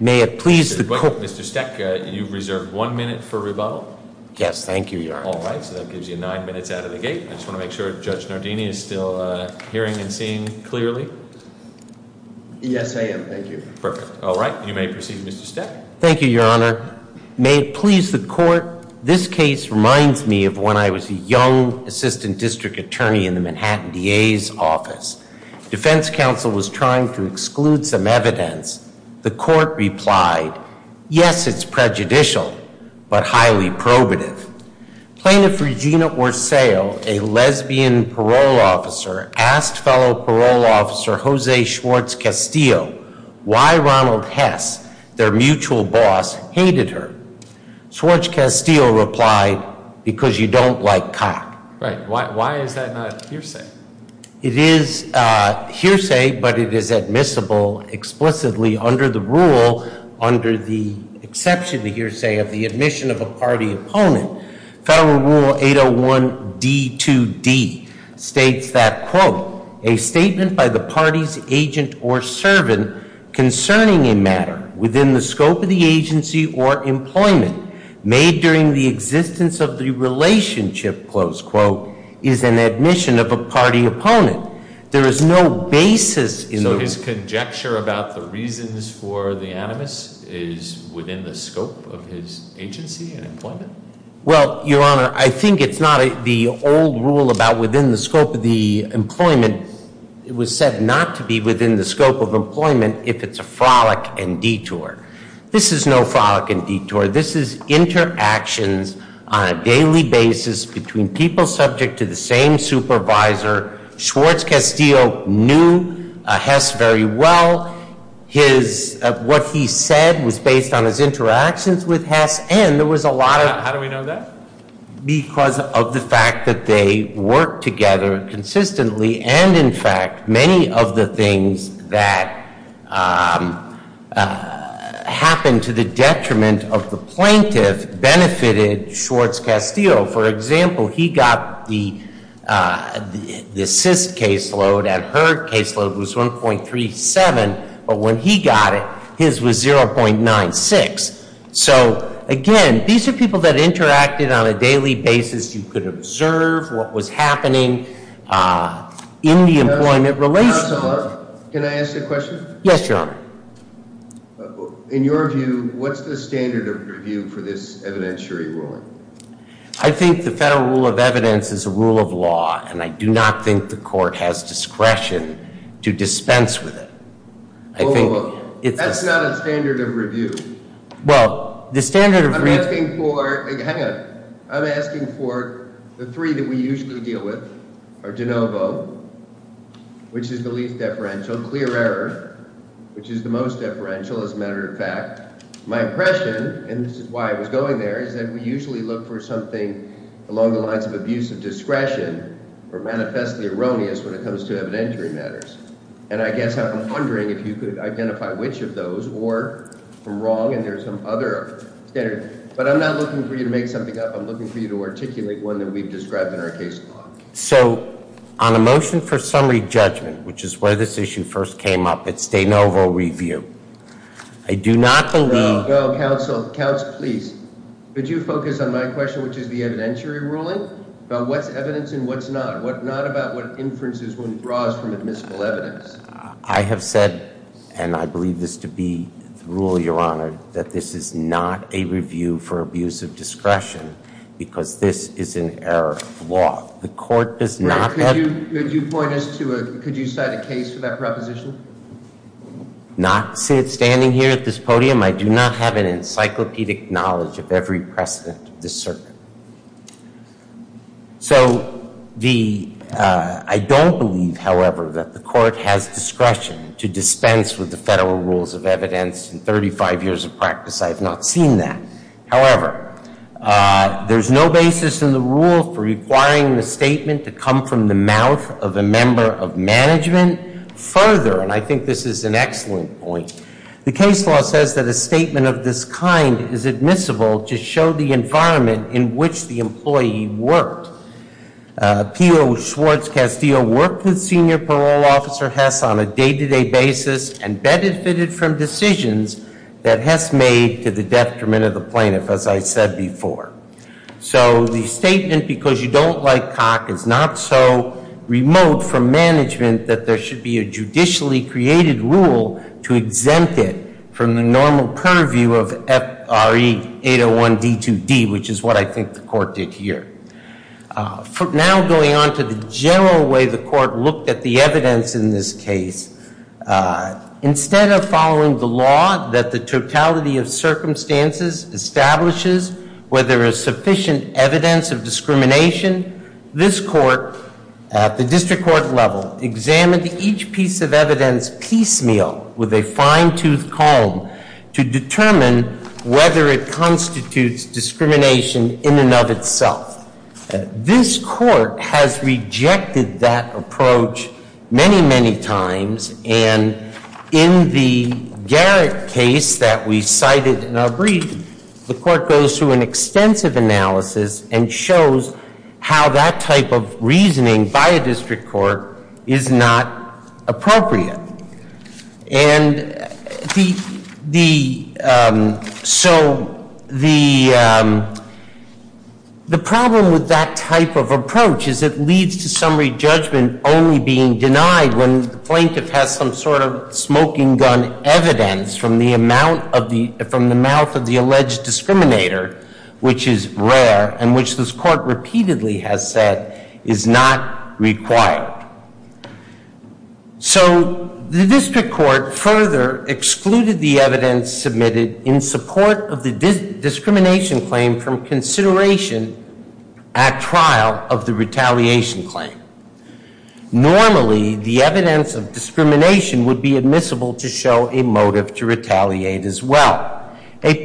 May it please Mr. Stack you reserve one minute for rebuttal. Yes, thank you, Your Honor. All right, so that gives you nine minutes out of the gate. I just want to make sure Judge Nardini is still hearing and seeing clearly. Thank you. Yes, I am. Thank you. Perfect. All right. You may proceed, Mr. Stack. Thank you, Your Honor. May it please the court, this case reminds me of when I was a young assistant district attorney in the Manhattan DA's office. Defense counsel was trying to exclude some evidence. The court replied, yes, it's prejudicial, but highly probative. Plaintiff Regina Orsaio, a lesbian parole officer, asked fellow parole officer Jose Schwartz-Castillo why Ronald Hess, their mutual boss, hated her. Schwartz-Castillo replied, because you don't like cock. Why is that not a hearsay? It is a hearsay, but it is admissible explicitly under the rule, under the exception, the hearsay of the admission of a party opponent. Federal Rule 801D2D states that, quote, a statement by the party's agent or servant concerning a matter within the scope of the agency or employment made during the existence of the relationship, close quote, is an admission of a party opponent. There is no basis in the- Agency and employment? Well, Your Honor, I think it's not the old rule about within the scope of the employment. It was said not to be within the scope of employment if it's a frolic and detour. This is no frolic and detour. This is interactions on a daily basis between people subject to the same supervisor. Schwartz-Castillo knew Hess very well. What he said was based on his interactions with Hess, and there was a lot of- How do we know that? Because of the fact that they worked together consistently. And in fact, many of the things that happened to the detriment of the plaintiff benefited Schwartz-Castillo. For example, he got the assist caseload, and her caseload was 1.37. But when he got it, his was 0.96. So again, these are people that interacted on a daily basis. You could observe what was happening in the employment relationship. Can I ask a question? Yes, Your Honor. In your view, what's the standard of review for this evidentiary ruling? I think the federal rule of evidence is a rule of law, and I do not think the court has discretion to dispense with it. I think it's- That's not a standard of review. Well, the standard of review- I'm asking for- hang on. I'm asking for the three that we usually deal with, or de novo, which is the least deferential, clear error, which is the most deferential, as a matter of fact. My impression, and this is why I was going there, is that we usually look for something along the lines of abuse of discretion or manifestly erroneous when it comes to evidentiary matters. And I guess I'm wondering if you could identify which of those, or from wrong and there's some other standard. But I'm not looking for you to make something up. I'm looking for you to articulate one that we've described in our case law. So on a motion for summary judgment, which is where this issue first came up, it's de novo review. I do not believe- No, no, counsel. Counsel, please. Could you focus on my question, which is the evidentiary ruling? About what's evidence and what's not. What not about what inferences one draws from admissible evidence. I have said, and I believe this to be the rule, Your Honor, that this is not a review for abuse of discretion, because this is an error of law. The court does not have- Could you point us to a- could you cite a case for that proposition? Not standing here at this podium. I do not have an encyclopedic knowledge of every precedent of this circuit. So the- I don't believe, however, that the court has discretion to dispense with the federal rules of evidence in 35 years of practice. I have not seen that. However, there's no basis in the rule for requiring the statement to come from the mouth of a member of management further. And I think this is an excellent point. The case law says that a statement of this kind is admissible to show the environment in which the employee worked. P.O. Schwartz-Castillo worked with Senior Parole Officer Hess on a day-to-day basis and benefited from decisions that Hess made to the detriment of the plaintiff, as I said before. So the statement, because you don't like cock, is not so remote from management that there should be a judicially created rule to exempt it from the normal purview of FRE 801 D2D, which is what I think the court did here. From now going on to the general way the court looked at the evidence in this case, instead of following the law that the totality of circumstances establishes where there is sufficient evidence of discrimination, this court at the district court level examined each piece of evidence piecemeal with a fine-toothed comb to determine whether it constitutes discrimination in and of itself. This court has rejected that approach many, many times. And in the Garrett case that we cited in our brief, the court goes through an extensive analysis and shows how that type of reasoning by a district court is not appropriate. And so the problem with that type of approach is it leads to summary judgment only being denied when the plaintiff has some sort of smoking gun evidence from the mouth of the alleged discriminator, which is rare and which this court repeatedly has said is not required. So the district court further excluded the evidence submitted in support of the discrimination claim from consideration at trial of the retaliation claim. Normally, the evidence of discrimination would be admissible to show a motive to retaliate as well. A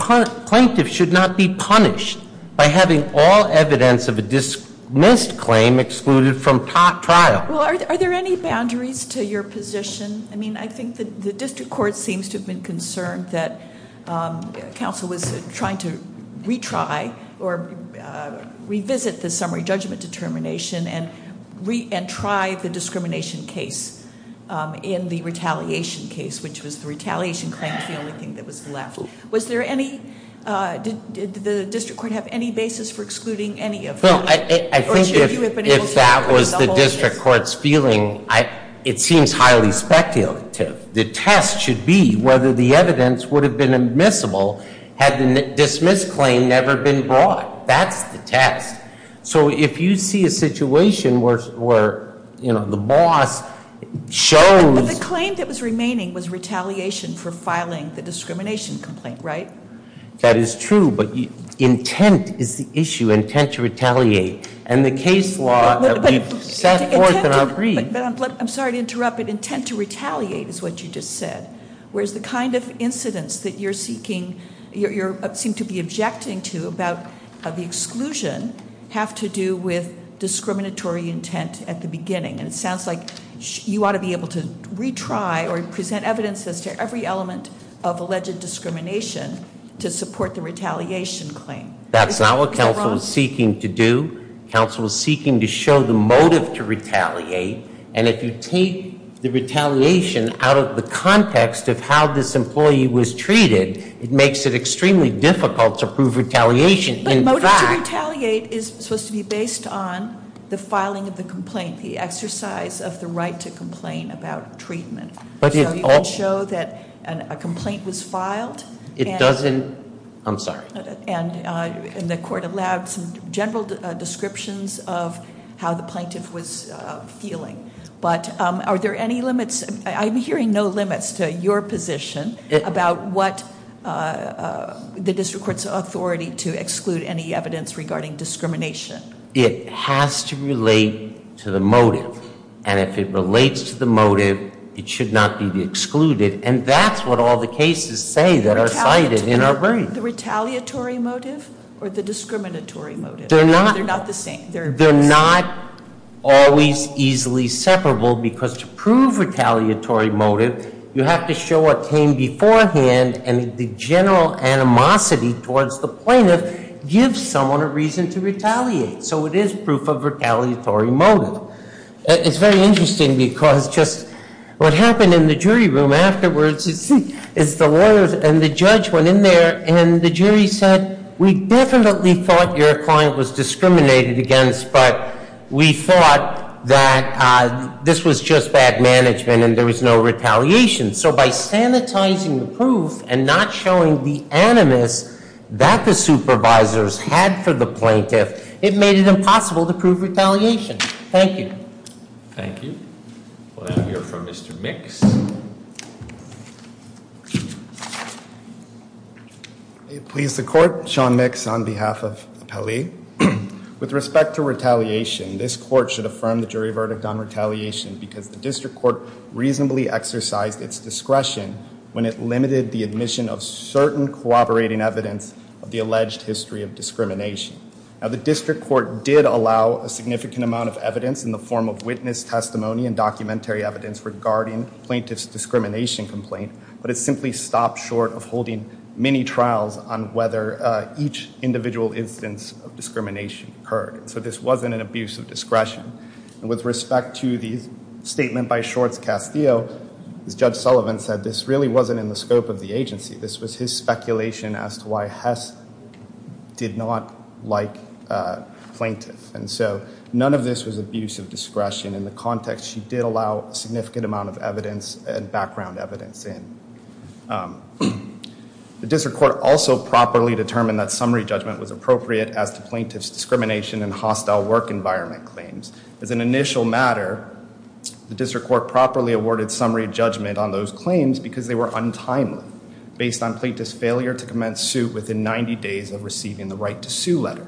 plaintiff should not be punished by having all evidence of a dismissed claim excluded from trial. Well, are there any boundaries to your position? I mean, I think the district court seems to have been concerned that counsel was trying to retry or revisit the summary judgment determination and try the discrimination case in the retaliation case, which was the retaliation claim, the only thing that was left. Was there any, did the district court have any basis for excluding any of them? Or should you have been able to- I think if that was the district court's feeling, it seems highly speculative. The test should be whether the evidence would have been admissible had the dismissed claim never been brought. That's the test. So if you see a situation where the boss shows- But the claim that was remaining was retaliation for filing the discrimination complaint, right? That is true, but intent is the issue, intent to retaliate. And the case law that we've set forth and agreed- But I'm sorry to interrupt, but intent to retaliate is what you just said. Whereas the kind of incidents that you're seeking, you seem to be objecting to about the exclusion have to do with discriminatory intent at the beginning. And it sounds like you ought to be able to retry or present evidence as to every element of alleged discrimination to support the retaliation claim. That's not what counsel was seeking to do. Counsel was seeking to show the motive to retaliate. And if you take the retaliation out of the context of how this employee was treated, it makes it extremely difficult to prove retaliation in fact. But motive to retaliate is supposed to be based on the filing of the complaint, the exercise of the right to complain about treatment. So you can show that a complaint was filed. It doesn't, I'm sorry. And the court allowed some general descriptions of how the plaintiff was feeling. But are there any limits, I'm hearing no limits to your position about what the district court's authority to exclude any evidence regarding discrimination. It has to relate to the motive. And if it relates to the motive, it should not be excluded. And that's what all the cases say that are cited in our brain. The retaliatory motive or the discriminatory motive? They're not the same. They're not always easily separable because to prove retaliatory motive, you have to show a claim beforehand and the general animosity towards the plaintiff gives someone a reason to retaliate. So it is proof of retaliatory motive. It's very interesting because just what happened in the jury room afterwards is the lawyers and the judge went in there and the jury said, we definitely thought your client was discriminated against, but we thought that this was just bad management and there was no retaliation. So by sanitizing the proof and not showing the animus that the supervisors had for the plaintiff, it made it impossible to prove retaliation. Thank you. Thank you. We'll now hear from Mr. Mix. Please the court, Sean Mix on behalf of Appellee. With respect to retaliation, this court should affirm the jury verdict on retaliation because the district court reasonably exercised its discretion when it limited the admission of certain cooperating evidence of the alleged history of discrimination. Now the district court did allow a significant amount of evidence in the form of witness testimony and documentary evidence regarding plaintiff's discrimination complaint, but it simply stopped short of holding many trials on whether each individual instance of discrimination occurred. So this wasn't an abuse of discretion. And with respect to the statement by Shorts Castillo, as Judge Sullivan said, this really wasn't in the scope of the agency. This was his speculation as to why Hess did not like plaintiff. And so none of this was abuse of discretion. In the context, she did allow a significant amount of evidence and background evidence in. The district court also properly determined that summary judgment was appropriate as to plaintiff's discrimination and hostile work environment claims. As an initial matter, the district court properly awarded summary judgment on those claims because they were untimely. Based on plaintiff's failure to commence suit within 90 days of receiving the right to sue letter.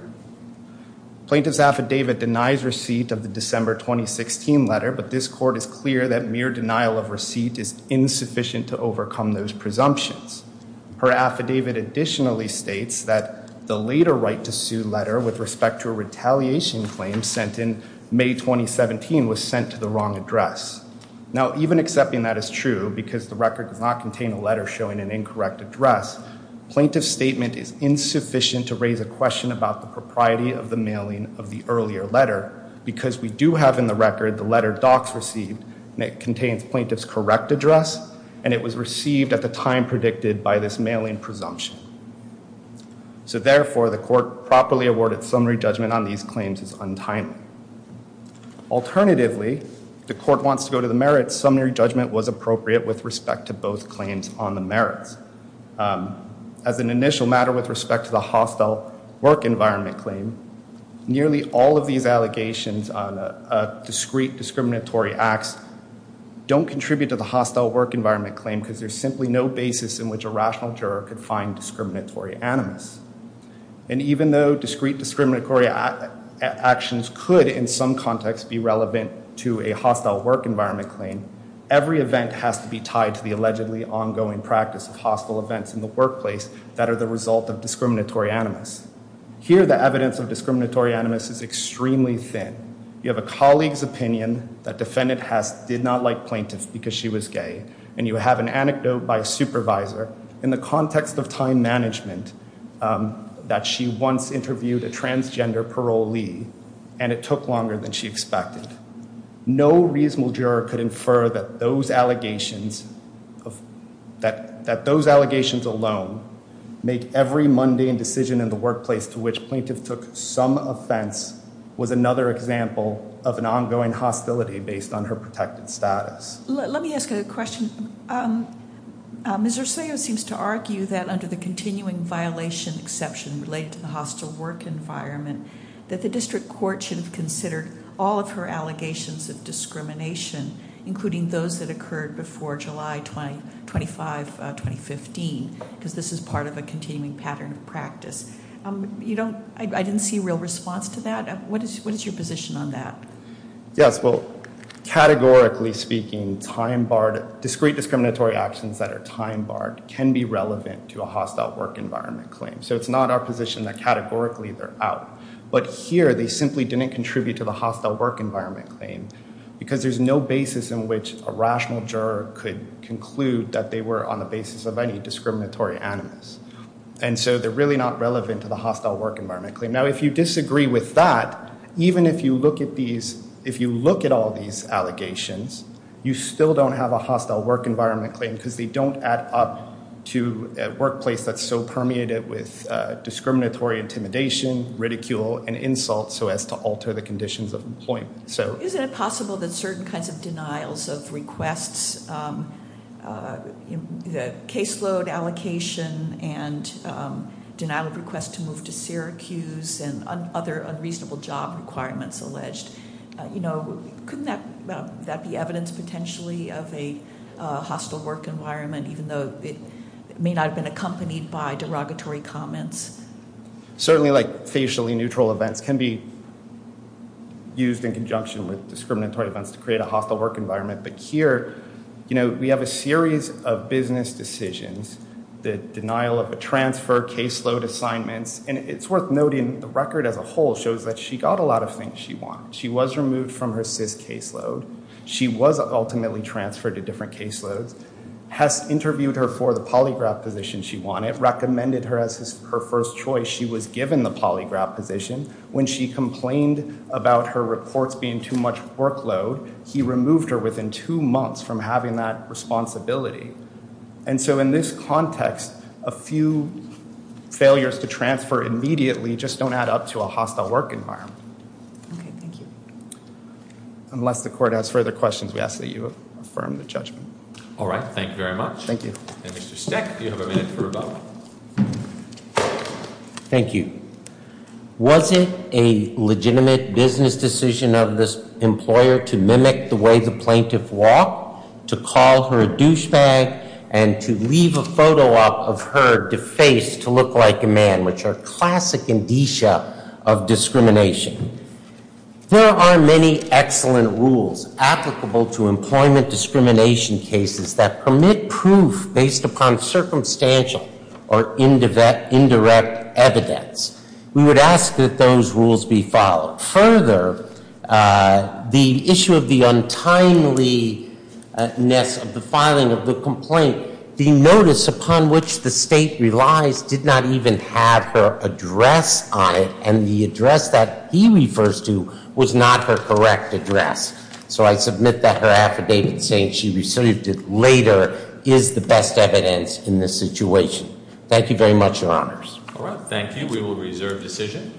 Plaintiff's affidavit denies receipt of the December 2016 letter, but this court is clear that mere denial of receipt is insufficient to overcome those presumptions. Her affidavit additionally states that the later right to sue letter, with respect to a retaliation claim sent in May 2017, was sent to the wrong address. Now, even accepting that is true, because the record does not contain a letter showing an incorrect address. Plaintiff's statement is insufficient to raise a question about the propriety of the mailing of the earlier letter. Because we do have in the record the letter Docs received, and it contains plaintiff's correct address. And it was received at the time predicted by this mailing presumption. So therefore, the court properly awarded summary judgment on these claims as untimely. Alternatively, if the court wants to go to the merits, summary judgment was appropriate with respect to both claims on the merits. As an initial matter with respect to the hostile work environment claim, nearly all of these allegations on a discrete discriminatory acts don't contribute to the hostile work environment claim. Because there's simply no basis in which a rational juror could find discriminatory animus. And even though discrete discriminatory actions could, in some context, be relevant to a hostile work environment claim, every event has to be tied to the allegedly ongoing practice of hostile events in the workplace that are the result of discriminatory animus. Here, the evidence of discriminatory animus is extremely thin. You have a colleague's opinion that defendant did not like plaintiff because she was gay. And you have an anecdote by a supervisor in the context of time management that she once interviewed a transgender parolee, and it took longer than she expected. No reasonable juror could infer that those allegations alone make every mundane decision in the workplace to which plaintiff took some offense was another example of an ongoing hostility based on her protected status. Let me ask a question. Ms. Rosario seems to argue that under the continuing violation exception related to the hostile work environment, that the district court should have considered all of her allegations of discrimination, including those that occurred before July 25, 2015, because this is part of a continuing pattern of practice. I didn't see a real response to that. What is your position on that? Yes, well, categorically speaking, discrete discriminatory actions that are time barred can be relevant to a hostile work environment claim. So it's not our position that categorically they're out. But here, they simply didn't contribute to the hostile work environment claim because there's no basis in which a rational juror could conclude that they were on the basis of any discriminatory animus. And so they're really not relevant to the hostile work environment claim. Now, if you disagree with that, even if you look at all these allegations, you still don't have a hostile work environment claim because they don't add up to a workplace that's so permeated with discriminatory intimidation, ridicule, and insult so as to alter the conditions of employment. Isn't it possible that certain kinds of denials of requests, the caseload allocation and denial of request to move to Syracuse and other unreasonable job requirements alleged, couldn't that be evidence potentially of a hostile work environment, even though it may not have been accompanied by derogatory comments? Certainly, facially neutral events can be used in conjunction with discriminatory events to create a hostile work environment. But here, we have a series of business decisions. The denial of a transfer, caseload assignments. And it's worth noting the record as a whole shows that she got a lot of things she wanted. She was removed from her CIS caseload. She was ultimately transferred to different caseloads. Hess interviewed her for the polygraph position she wanted, recommended her as her first choice. She was given the polygraph position. When she complained about her reports being too much workload, he removed her within two months from having that responsibility. And so in this context, a few failures to transfer immediately just don't add up to a hostile work environment. Okay, thank you. Unless the court has further questions, we ask that you affirm the judgment. All right, thank you very much. Thank you. And Mr. Steck, do you have a minute for rebuttal? Thank you. Was it a legitimate business decision of this employer to mimic the way the plaintiff walked? To call her a douchebag? And to leave a photo of her defaced to look like a man, which are classic indicia of discrimination. There are many excellent rules applicable to employment discrimination cases that permit proof based upon circumstantial or indirect evidence. We would ask that those rules be followed. Further, the issue of the untimeliness of the filing of the complaint, the notice upon which the state relies did not even have her address on it. And the address that he refers to was not her correct address. So I submit that her affidavit saying she received it later is the best evidence in this situation. Thank you very much, your honors. All right, thank you. We will reserve decision.